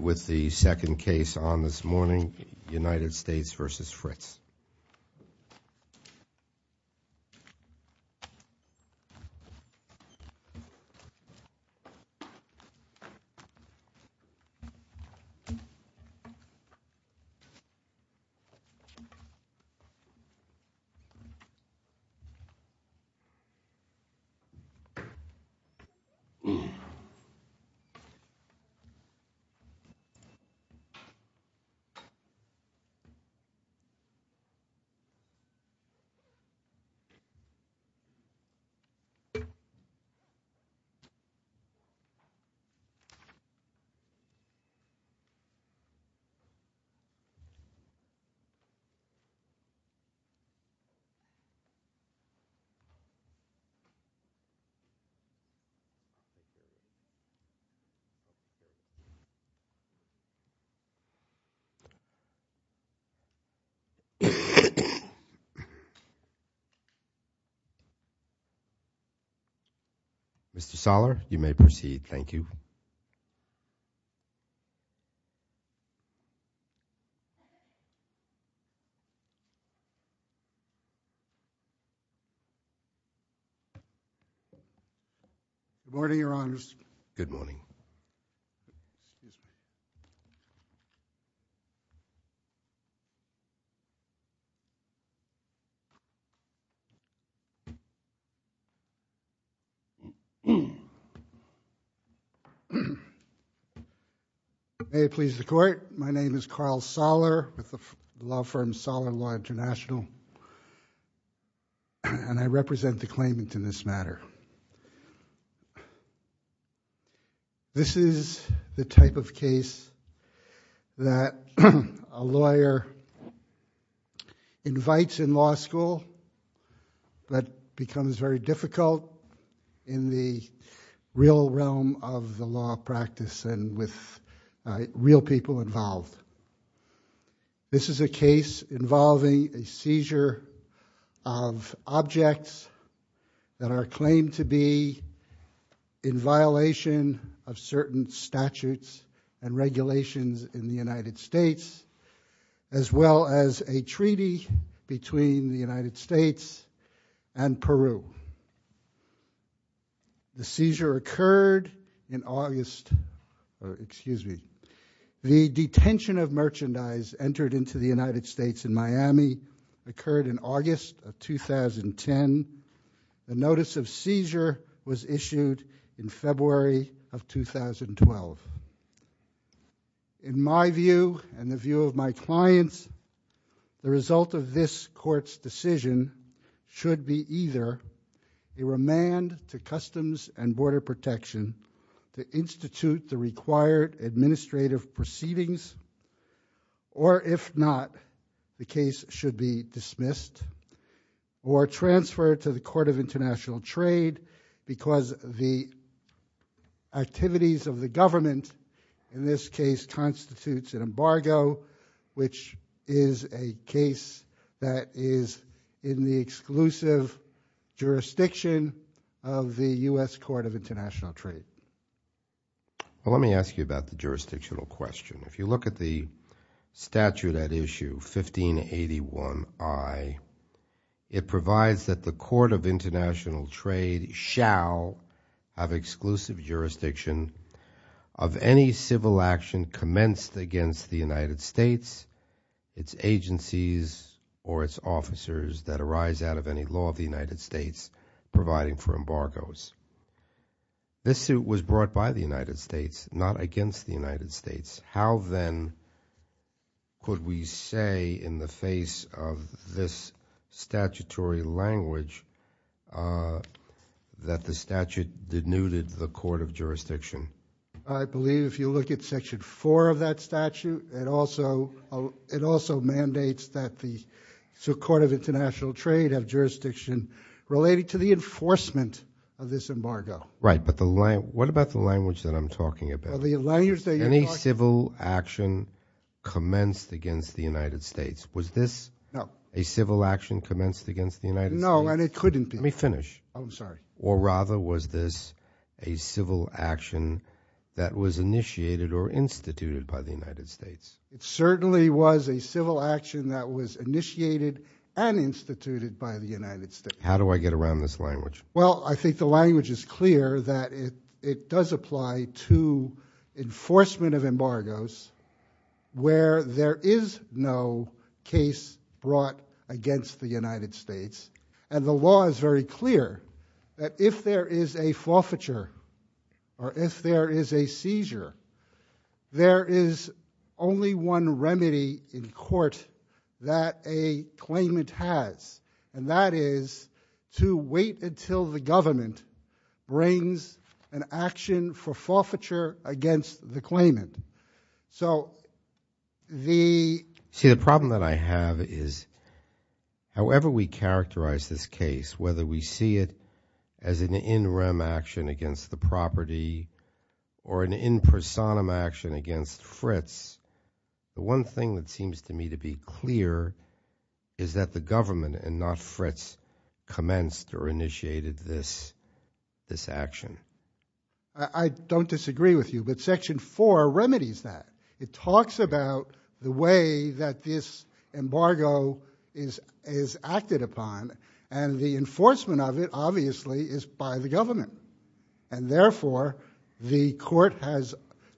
with the second case on this morning United States v. Fritz. Mr. Soller, you may proceed. Thank you. Good morning, Your Honors. Good morning. May it please the Court, my name is Carl Soller with the law firm Soller Law International, and I represent the claimant in this matter. This is the type of case that a lawyer invites in law school, but becomes very difficult in the real realm of the law practice and with real people involved. This is a case involving a seizure of objects that are claimed to be in violation of certain statutes and regulations in the United States, as well as a treaty between the United States and Peru. The seizure occurred in August, excuse me, the detention of merchandise entered into the United States in Miami occurred in August of 2010. The notice of seizure was issued in February of 2012. In my view and the view of my clients, the result of this court's decision should be either a remand to Customs and Border Protection to institute the required administrative proceedings, or if not, the case should be dismissed or transferred to the Court of International Trade because the activities of the government in this case constitutes an embargo, which is a case that is in the exclusive jurisdiction of the U.S. Court of International Trade. Let me ask you about the jurisdictional question. If you look at the statute at issue 1581I, it provides that the Court of International Trade shall have exclusive jurisdiction of any civil action commenced against the United States, its agencies, or its officers that arise out of any law of the United States providing for embargoes. This suit was brought by the United States, not against the United States. How then could we say in the face of this statutory language that the statute denuded the Court of Jurisdiction? I believe if you look at Section 4 of that statute, it also mandates that the Court of International Trade have jurisdiction related to the enforcement of this embargo. Right, but what about the language that I'm talking about? Any civil action commenced against the United States. Was this a civil action commenced against the United States? No, and it couldn't be. Let me finish. I'm sorry. Or rather, was this a civil action that was initiated or instituted by the United States? It certainly was a civil action that was initiated and instituted by the United States. How do I get around this language? Well, I think the language is clear that it does apply to enforcement of embargoes where there is no case brought against the United States, and the law is very clear that if there is a forfeiture or if there is a seizure, there is only one remedy in court that a claimant has, and that is to wait until the government brings an action for forfeiture against the claimant. So the problem that I have is however we characterize this case, whether we see it as an in rem action against the property or an in personam action against Fritz, the one thing that seems to me to be clear is that the government and not Fritz commenced or initiated this action. I don't disagree with you, but Section 4 remedies that. It talks about the way that this embargo is acted upon, and the enforcement of it obviously is by the government, and therefore the court has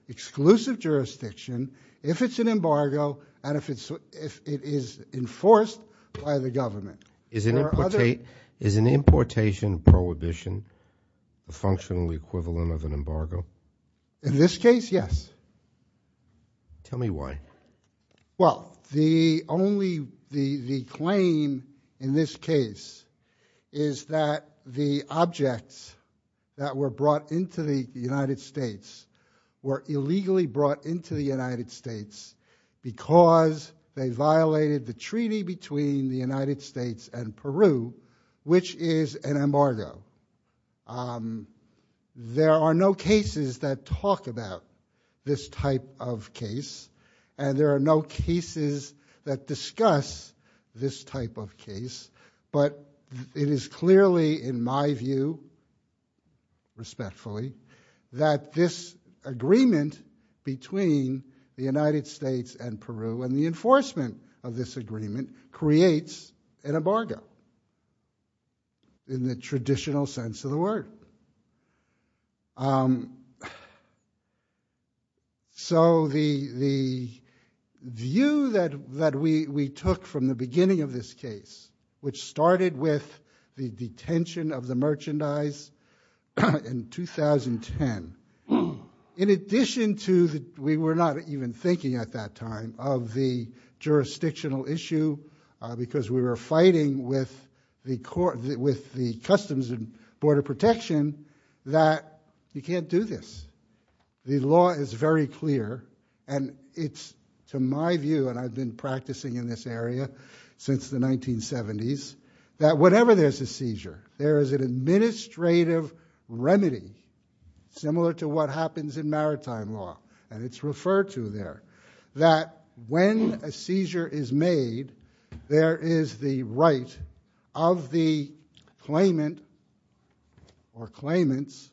exclusive jurisdiction if it's an embargo and if it is enforced by the government. Is an importation prohibition a functional equivalent of an embargo? In this case, yes. Tell me why. Well, the claim in this case is that the objects that were brought into the United States were illegally brought into the United States because they violated the treaty between the United States and Peru, which is an embargo. There are no cases that talk about this type of case, and there are no cases that discuss this type of case, but it is clearly in my view, respectfully, that this agreement between the United States and Peru and the enforcement of this agreement creates an embargo in the traditional sense of the word. So the view that we took from the beginning of this case, which started with the detention of the merchandise in 2010, in addition to we were not even thinking at that time of the jurisdictional issue because we were fighting with the Customs and Border Protection, that you can't do this. The law is very clear, and it's to my view, and I've been practicing in this area since the 1970s, that whenever there's a seizure, there is an administrative remedy, similar to what happens in maritime law, and it's referred to there, that when a seizure is made, there is the right of the claimant or claimants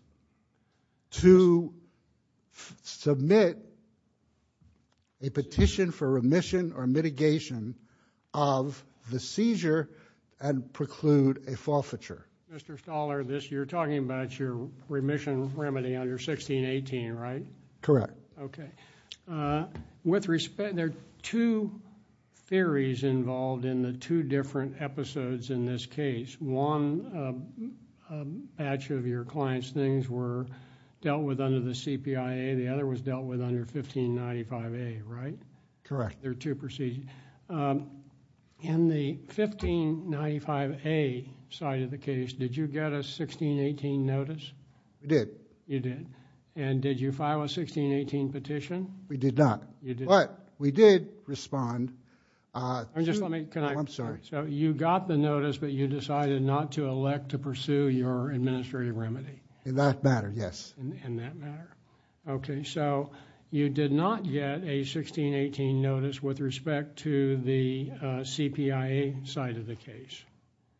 to submit a petition for remission or mitigation of the seizure and preclude a forfeiture. Mr. Stoller, you're talking about your remission remedy under 1618, right? Correct. Okay. There are two theories involved in the two different episodes in this case. One batch of your client's things were dealt with under the CPIA. The other was dealt with under 1595A, right? Correct. There are two proceedings. In the 1595A side of the case, did you get a 1618 notice? I did. You did. And did you file a 1618 petition? We did not. You did not. But we did respond to... Just let me... I'm sorry. You got the notice, but you decided not to elect to pursue your administrative remedy? In that matter, yes. In that matter. Okay. You did not get a 1618 notice with respect to the CPIA side of the case?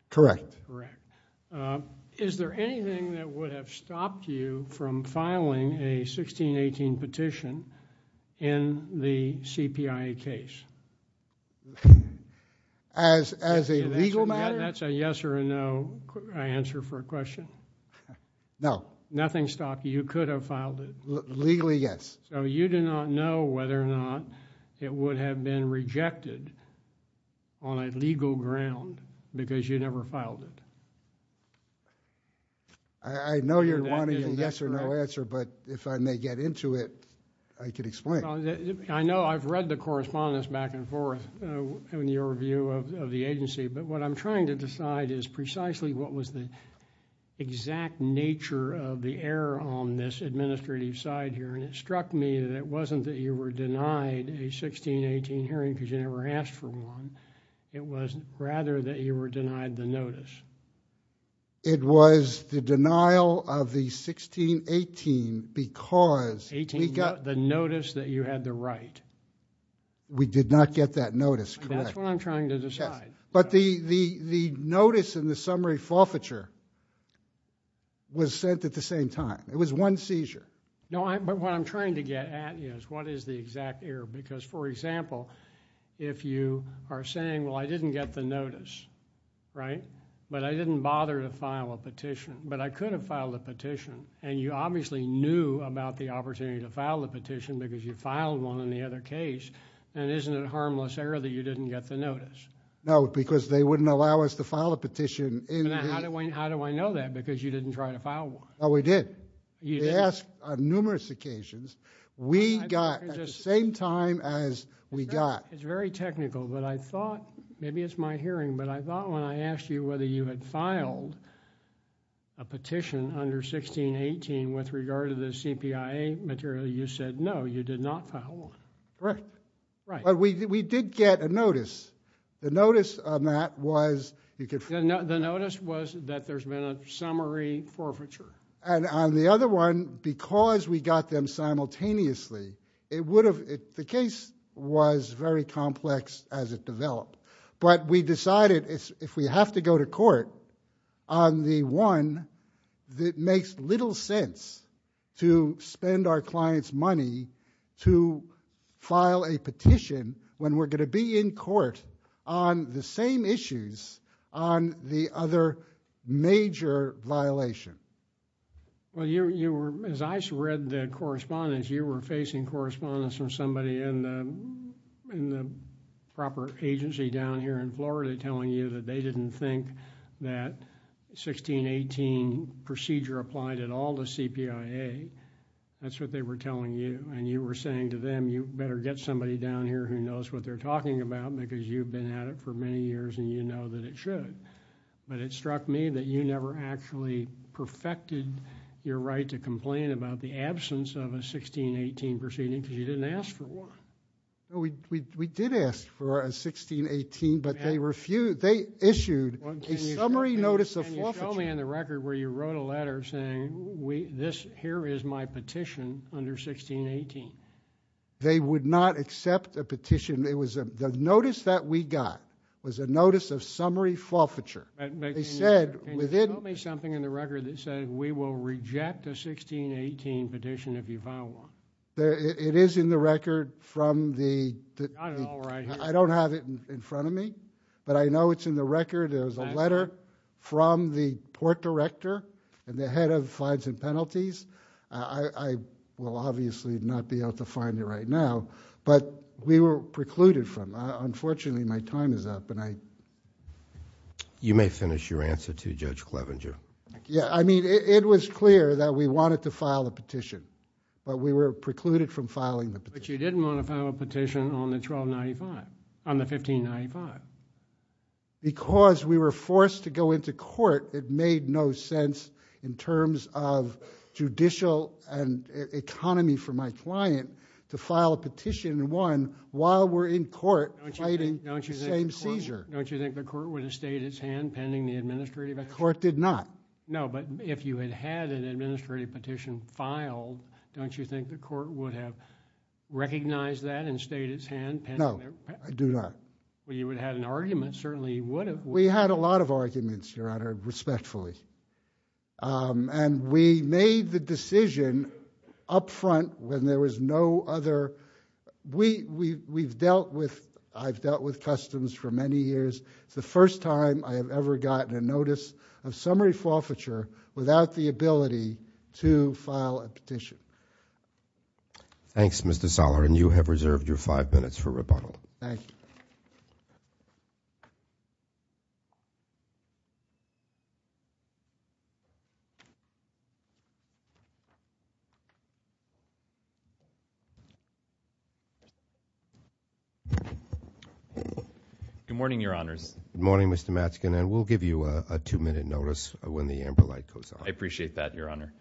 Correct. Correct. Is there anything that would have stopped you from filing a 1618 petition in the CPIA case? As a legal matter? That's a yes or a no answer for a question? No. Nothing stopped you. You could have filed it. Legally, yes. So you do not know whether or not it would have been rejected on a legal ground because you never filed it? I know you're wanting a yes or no answer, but if I may get into it, I could explain. I know I've read the correspondence back and forth in your view of the agency, but what I'm trying to decide is precisely what was the exact nature of the error on this administrative side here, and it struck me that it wasn't that you were denied a 1618 hearing because you never asked for one. It was rather that you were denied the notice. It was the denial of the 1618 because we got- The notice that you had the right. We did not get that notice, correct. That's what I'm trying to decide. But the notice and the summary forfeiture was sent at the same time. It was one seizure. No, but what I'm trying to get at is what is the exact error because, for example, if you are saying, well, I didn't get the notice, right, but I didn't bother to file a petition, but I could have filed a petition, and you obviously knew about the opportunity to file a petition because you filed one in the other case, and isn't it a harmless error that you didn't get the notice? No, because they wouldn't allow us to file a petition in- How do I know that because you didn't try to file one? Oh, we did. You did? On numerous occasions, we got at the same time as we got- It's very technical, but I thought, maybe it's my hearing, but I thought when I asked you whether you had filed a petition under 1618 with regard to the CPIA material, you said no, you did not file one. Correct. Right. But we did get a notice. The notice on that was- The notice was that there's been a summary forfeiture. And on the other one, because we got them simultaneously, it would have- The case was very complex as it developed, but we decided if we have to go to court on the one that makes little sense to spend our clients' money to file a petition when we're going to be in court on the same issues on the other major violation. Well, as I read the correspondence, you were facing correspondence from somebody in the proper agency down here in Florida telling you that they didn't think that 1618 procedure applied at all to CPIA. That's what they were telling you. And you were saying to them, you better get somebody down here who knows what they're talking about because you've been at it for many years and you know that it should. But it struck me that you never actually perfected your right to complain about the absence of a 1618 proceeding because you didn't ask for one. We did ask for a 1618, but they issued a summary notice of forfeiture. Show me in the record where you wrote a letter saying, here is my petition under 1618. They would not accept a petition. The notice that we got was a notice of summary forfeiture. Can you show me something in the record that says we will reject a 1618 petition if you file one? It is in the record from the- Not at all right here. I don't have it in front of me, but I know it's in the record. There's a letter from the Port Director and the Head of Fines and Penalties. I will obviously not be able to find it right now, but we were precluded from. Unfortunately, my time is up and I... You may finish your answer to Judge Clevenger. I mean, it was clear that we wanted to file a petition, but we were precluded from filing the petition. But you didn't want to file a petition on the 1595. Because we were forced to go into court, it made no sense in terms of judicial and economy for my client to file a petition in one while we're in court fighting the same seizure. Don't you think the court would have stayed its hand pending the administrative action? The court did not. No, but if you had had an administrative petition filed, don't you think the court would have recognized that and stayed its hand? No, I do not. Well, you would have had an argument, certainly you would have. We had a lot of arguments, Your Honor, respectfully. And we made the decision up front when there was no other... We've dealt with... I've dealt with customs for many years. It's the first time I have ever gotten a notice of summary forfeiture without the ability to file a petition. Thanks, Mr. Soller, and you have reserved your five minutes for rebuttal. Thank you. Good morning, Your Honors. Good morning, Mr. Matsken, and we'll give you a two-minute notice when the amber light goes on. I appreciate that, Your Honor.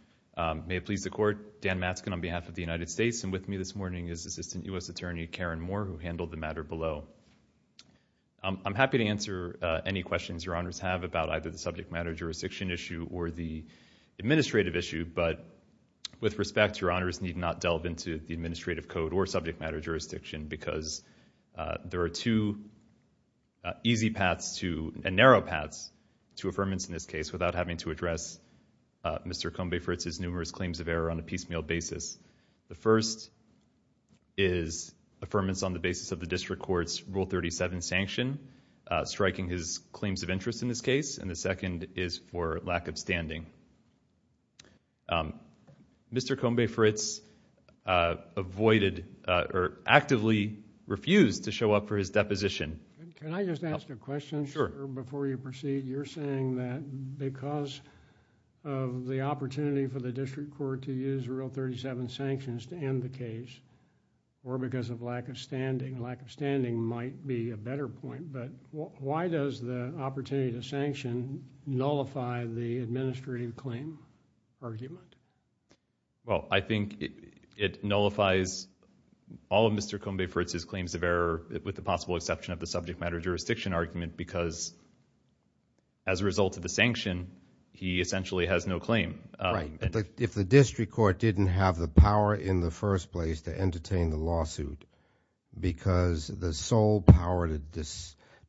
May it please the Court, Dan Matsken on behalf of the United States, and with me this morning is Assistant U.S. Attorney Karen Moore, who handled the matter below. I'm happy to answer any questions Your Honors have about either the subject matter jurisdiction issue or the administrative issue, but with respect, Your Honors need not delve into the administrative code or subject matter jurisdiction because there are two easy paths to... and narrow paths to affirmance in this case without having to address Mr. Combe-Fritz's numerous claims of error on a piecemeal basis. The first is affirmance on the basis of the district court's Rule 37 sanction, striking his claims of interest in this case, and the second is for lack of standing. Mr. Combe-Fritz avoided or actively refused to show up for his deposition. Can I just ask a question? Sure. Before you proceed, you're saying that because of the opportunity for the district court to use Rule 37 sanctions to end the case or because of lack of standing. Lack of standing might be a better point, but why does the opportunity to sanction nullify the administrative claim argument? Well, I think it nullifies all of Mr. Combe-Fritz's claims of error with the possible exception of the subject matter jurisdiction argument because as a result of the sanction, he essentially has no claim. Right. If the district court didn't have the power in the first place to entertain the lawsuit because the sole power to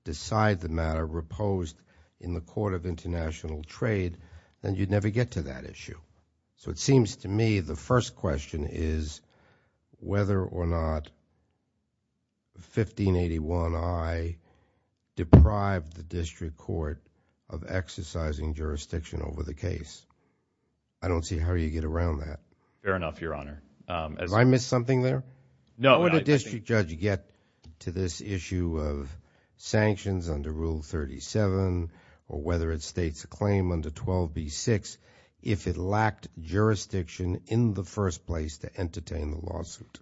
decide the matter reposed in the Court of International Trade, then you'd never get to that issue. So it seems to me the first question is whether or not 1581I deprived the district court of exercising jurisdiction over the case. I don't see how you get around that. Fair enough, Your Honor. Have I missed something there? No. How would a district judge get to this issue of sanctions under Rule 37 or whether it states a claim under 12b-6 if it lacked jurisdiction in the first place to entertain the lawsuit?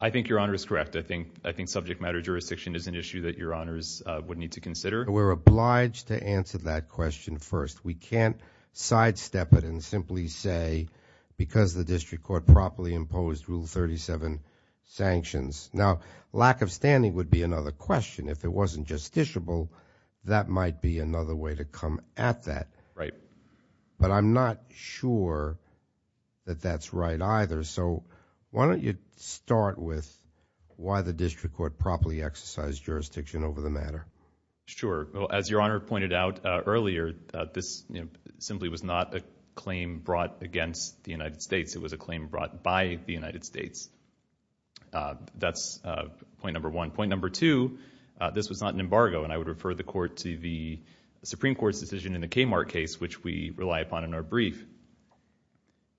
I think Your Honor is correct. I think subject matter jurisdiction is an issue that Your Honors would need to consider. We're obliged to answer that question first. We can't sidestep it and simply say because the district court properly imposed Rule 37 sanctions. Now, lack of standing would be another question. If it wasn't justiciable, that might be another way to come at that. Right. But I'm not sure that that's right either. So why don't you start with why the district court properly exercised jurisdiction over the matter? Sure. As Your Honor pointed out earlier, this simply was not a claim brought against the United States. It was a claim brought by the United States. That's point number one. Point number two, this was not an embargo, and I would refer the court to the Supreme Court's decision in the Kmart case, which we rely upon in our brief.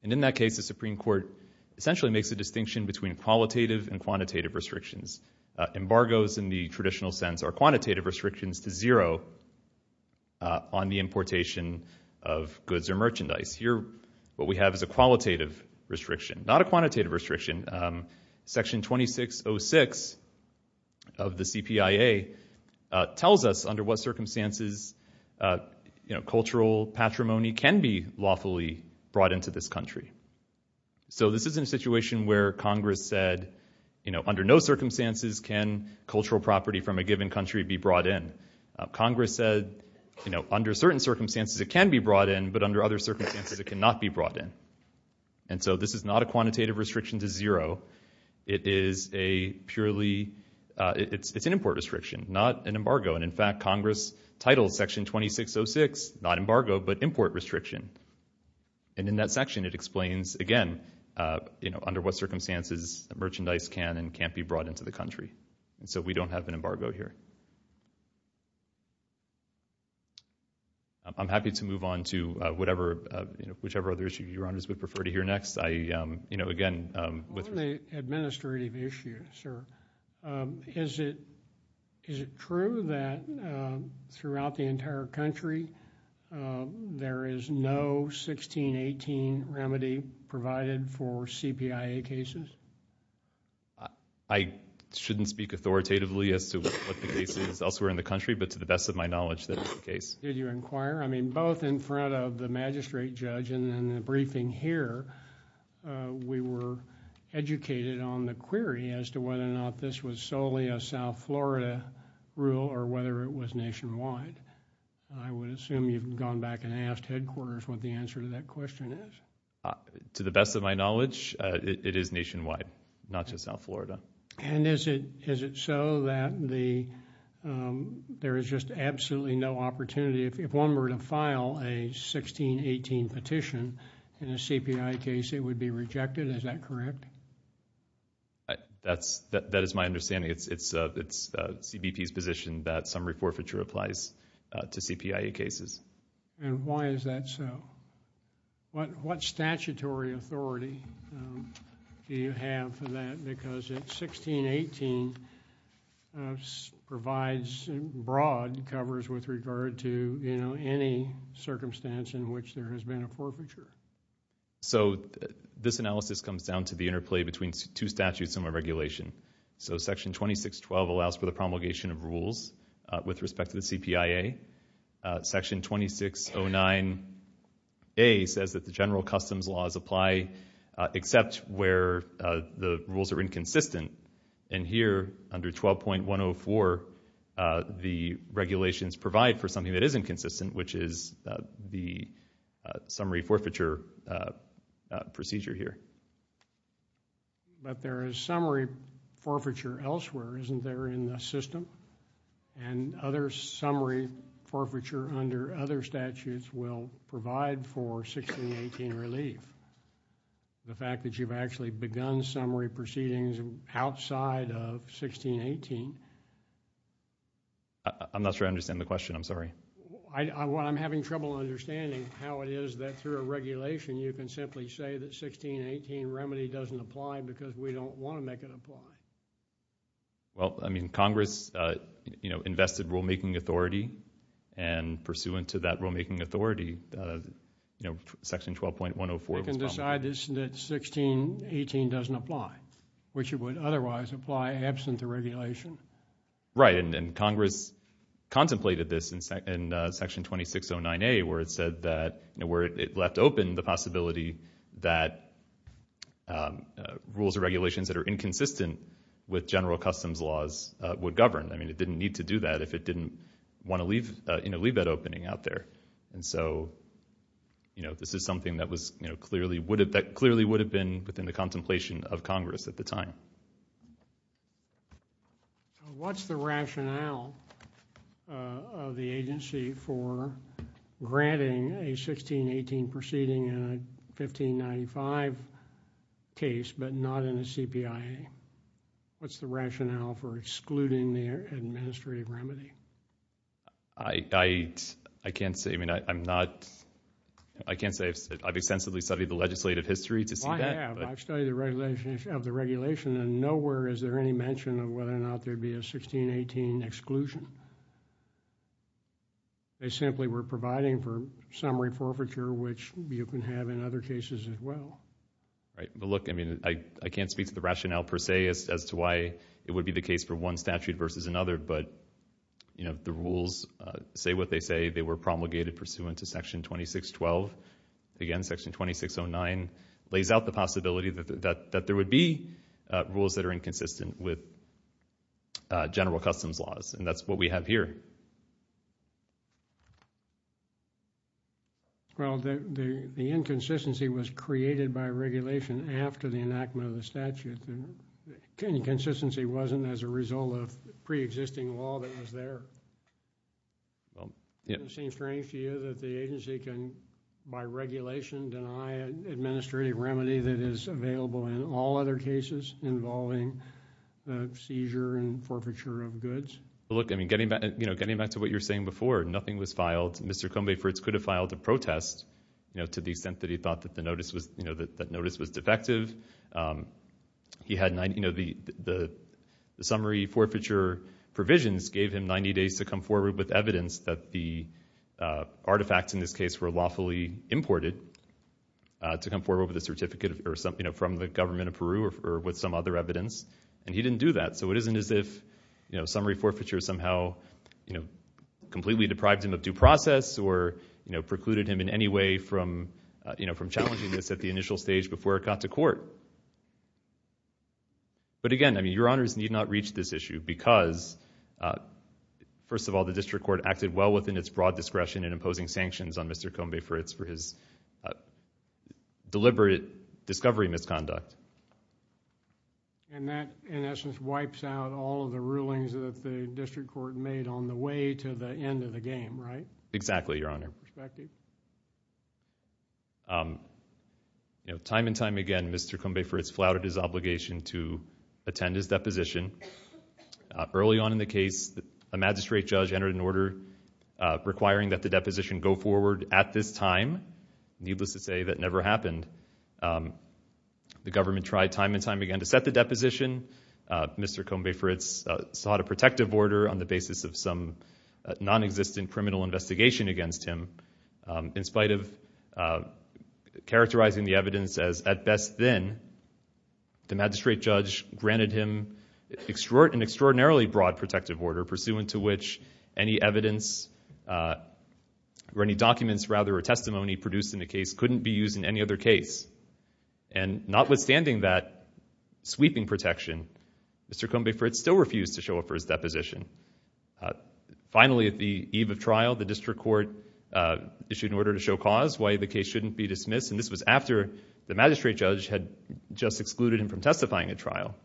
And in that case, the Supreme Court essentially makes a distinction between qualitative and quantitative restrictions. Embargoes in the traditional sense are quantitative restrictions to zero on the importation of goods or merchandise. Here what we have is a qualitative restriction, not a quantitative restriction. Section 2606 of the CPIA tells us under what circumstances, you know, cultural patrimony can be lawfully brought into this country. So this is a situation where Congress said, you know, under no circumstances can cultural property from a given country be brought in. Congress said, you know, under certain circumstances it can be brought in, but under other circumstances it cannot be brought in. And so this is not a quantitative restriction to zero. It is a purely, it's an import restriction, not an embargo. And, in fact, Congress titles Section 2606 not embargo, but import restriction. And in that section it explains, again, you know, under what circumstances merchandise can and can't be brought into the country. So we don't have an embargo here. I'm happy to move on to whatever, you know, whichever other issue Your Honors would prefer to hear next. I, you know, again... On the administrative issue, sir, is it true that throughout the entire country there is no 1618 remedy provided for CPIA cases? I shouldn't speak authoritatively as to what the case is elsewhere in the country, but to the best of my knowledge that is the case. Did you inquire? I mean, both in front of the magistrate judge and in the briefing here, we were educated on the query as to whether or not this was solely a South Florida rule or whether it was nationwide. I would assume you've gone back and asked headquarters what the answer to that question is. To the best of my knowledge, it is nationwide, not just South Florida. And is it so that there is just absolutely no opportunity, if one were to file a 1618 petition in a CPIA case, it would be rejected? Is that correct? That is my understanding. It's CBP's position that some report feature applies to CPIA cases. And why is that so? What statutory authority do you have for that? Because 1618 provides broad covers with regard to any circumstance in which there has been a forfeiture. So this analysis comes down to the interplay between two statutes and one regulation. So Section 2612 allows for the promulgation of rules with respect to the CPIA. Section 2609A says that the general customs laws apply except where the rules are inconsistent. And here, under 12.104, the regulations provide for something that is inconsistent, which is the summary forfeiture procedure here. But there is summary forfeiture elsewhere, isn't there, in the system? And other summary forfeiture under other statutes will provide for 1618 relief. The fact that you've actually begun summary proceedings outside of 1618. I'm not sure I understand the question. I'm sorry. I'm having trouble understanding how it is that through a regulation you can simply say that 1618 remedy doesn't apply because we don't want to make it apply. Well, I mean, Congress, you know, invested rulemaking authority and pursuant to that rulemaking authority, you know, Section 12.104 was promulgated. You can decide that 1618 doesn't apply, which it would otherwise apply absent the regulation. Right, and Congress contemplated this in Section 2609A where it said that, you know, where it left open the possibility that rules or regulations that are inconsistent with general customs laws would govern. I mean, it didn't need to do that if it didn't want to leave that opening out there. And so, you know, this is something that clearly would have been within the contemplation of Congress at the time. What's the rationale of the agency for granting a 1618 proceeding in a 1595 case but not in a CPIA? What's the rationale for excluding the administrative remedy? I can't say. I mean, I'm not, I can't say. I've extensively studied the legislative history to see that. Well, I have. I've studied the regulation and nowhere is there any mention of whether or not there'd be a 1618 exclusion. They simply were providing for summary forfeiture, which you can have in other cases as well. Right. But look, I mean, I can't speak to the rationale per se as to why it would be the case for one statute versus another, but, you know, the rules say what they say. They were promulgated pursuant to Section 2612. Again, Section 2609 lays out the possibility that there would be rules that are inconsistent with general customs laws, and that's what we have here. Well, the inconsistency was created by regulation after the enactment of the statute. The inconsistency wasn't as a result of preexisting law that was there. It seems strange to you that the agency can, by regulation, deny an administrative remedy that is available in all other cases involving the seizure and forfeiture of goods? Well, look, I mean, getting back to what you were saying before, nothing was filed. Mr. Combe-Fritz could have filed a protest, you know, to the extent that he thought that notice was defective. You know, the summary forfeiture provisions gave him 90 days to come forward with evidence that the artifacts in this case were lawfully imported to come forward with a certificate from the government of Peru or with some other evidence, and he didn't do that. So it isn't as if, you know, summary forfeiture somehow, you know, completely deprived him of due process or, you know, precluded him in any way from challenging this at the initial stage before it got to court. But again, I mean, Your Honors need not reach this issue because, first of all, the district court acted well within its broad discretion in imposing sanctions on Mr. Combe-Fritz for his deliberate discovery misconduct. And that, in essence, wipes out all of the rulings that the district court made on the way to the end of the game, right? Exactly, Your Honor. You know, time and time again, Mr. Combe-Fritz flouted his obligation to attend his deposition. Early on in the case, a magistrate judge entered an order requiring that the deposition go forward at this time. Needless to say, that never happened. The government tried time and time again to set the deposition. Mr. Combe-Fritz sought a protective order on the basis of some nonexistent criminal investigation against him. In spite of characterizing the evidence as at best thin, the magistrate judge granted him an extraordinarily broad protective order produced in the case couldn't be used in any other case. And notwithstanding that sweeping protection, Mr. Combe-Fritz still refused to show up for his deposition. Finally, at the eve of trial, the district court issued an order to show cause why the case shouldn't be dismissed, and this was after the magistrate judge had just excluded him from testifying at trial.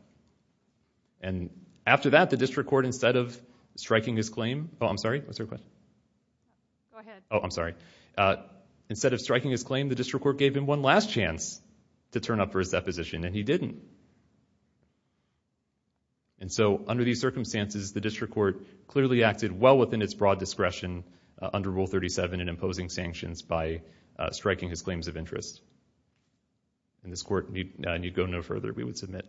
And after that, the district court, instead of striking his claim... Oh, I'm sorry, what's your question? Go ahead. Oh, I'm sorry. Instead of striking his claim, the district court gave him one last chance to turn up for his deposition, and he didn't. And so under these circumstances, the district court clearly acted well within its broad discretion under Rule 37 in imposing sanctions by striking his claims of interest. And this court need go no further. We would submit.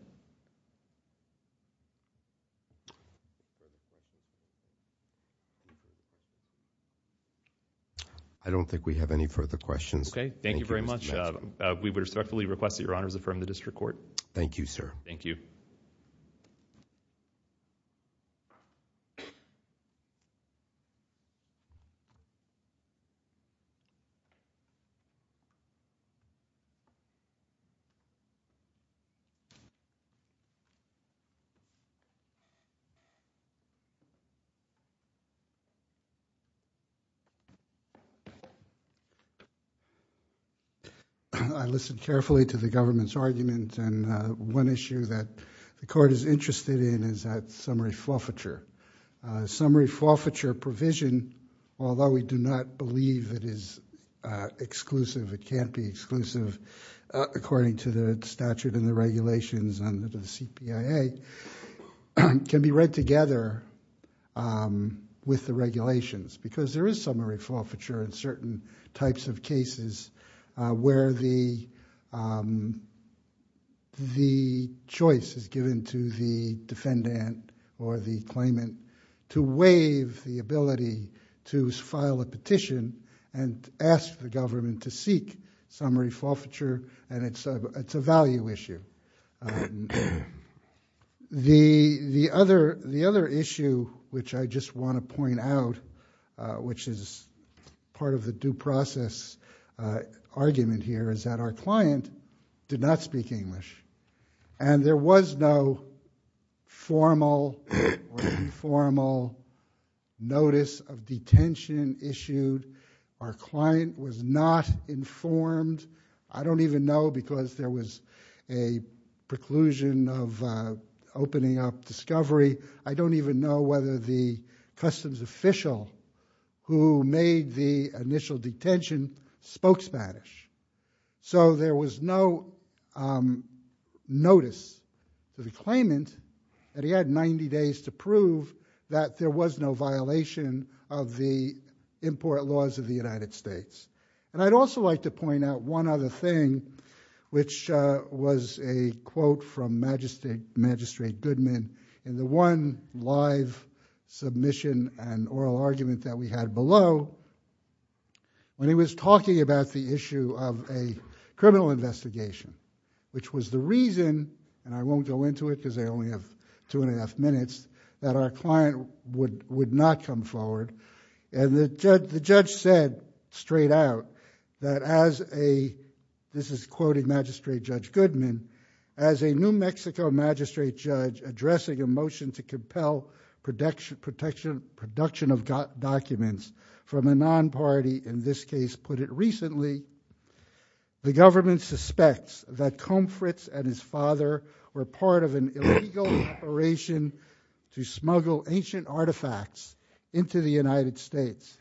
I don't think we have any further questions. Okay. Thank you very much. We would respectfully request that Your Honors affirm the district court. Thank you, sir. Thank you. I listened carefully to the government's argument, and one issue that the court is interested in is that summary forfeiture. Summary forfeiture provision, although we do not believe it is exclusive, it can't be exclusive according to the statute and the regulations under the CPIA, can be read together with the regulations because there is summary forfeiture in certain types of cases where the choice is given to the defendant or the claimant to waive the ability to file a petition and ask the government to seek summary forfeiture, and it's a value issue. The other issue which I just want to point out, which is part of the due process argument here, is that our client did not speak English, and there was no formal or informal notice of detention issued. Our client was not informed. I don't even know because there was a preclusion of opening up discovery. I don't even know whether the customs official who made the initial detention spoke Spanish. So there was no notice to the claimant that he had 90 days to prove that there was no violation of the import laws of the United States. And I'd also like to point out one other thing, which was a quote from Magistrate Goodman in the one live submission and oral argument that we had below when he was talking about the issue of a criminal investigation, which was the reason, and I won't go into it because I only have two and a half minutes, that our client would not come forward. And the judge said straight out that as a, this is quoting Magistrate Judge Goodman, as a New Mexico magistrate judge addressing a motion to compel production of documents from a non-party, in this case put it recently, the government suspects that Comforts and his father were part of an illegal operation to smuggle ancient artifacts into the United States.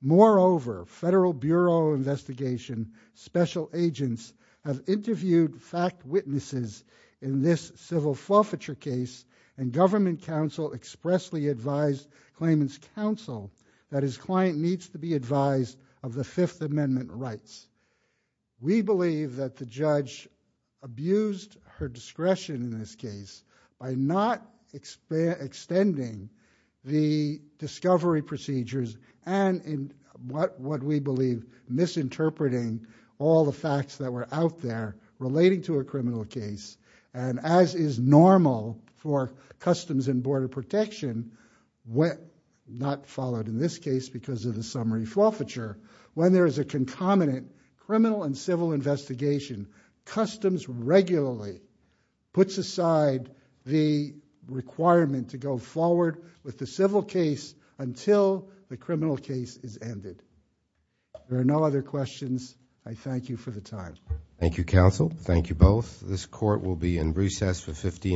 Moreover, federal bureau investigation special agents have interviewed fact witnesses in this civil forfeiture case and government counsel expressly advised claimant's counsel that his client needs to be advised of the Fifth Amendment rights. We believe that the judge abused her discretion in this case by not extending the discovery procedures and in what we believe misinterpreting all the facts that were out there relating to a criminal case and as is normal for Customs and Border Protection, not followed in this case because of the summary forfeiture, when there is a concomitant criminal and civil investigation, Customs regularly puts aside the requirement to go forward with the civil case until the criminal case is ended. There are no other questions. I thank you for the time. Thank you, counsel. Thank you both. This court will be in recess for 15 minutes.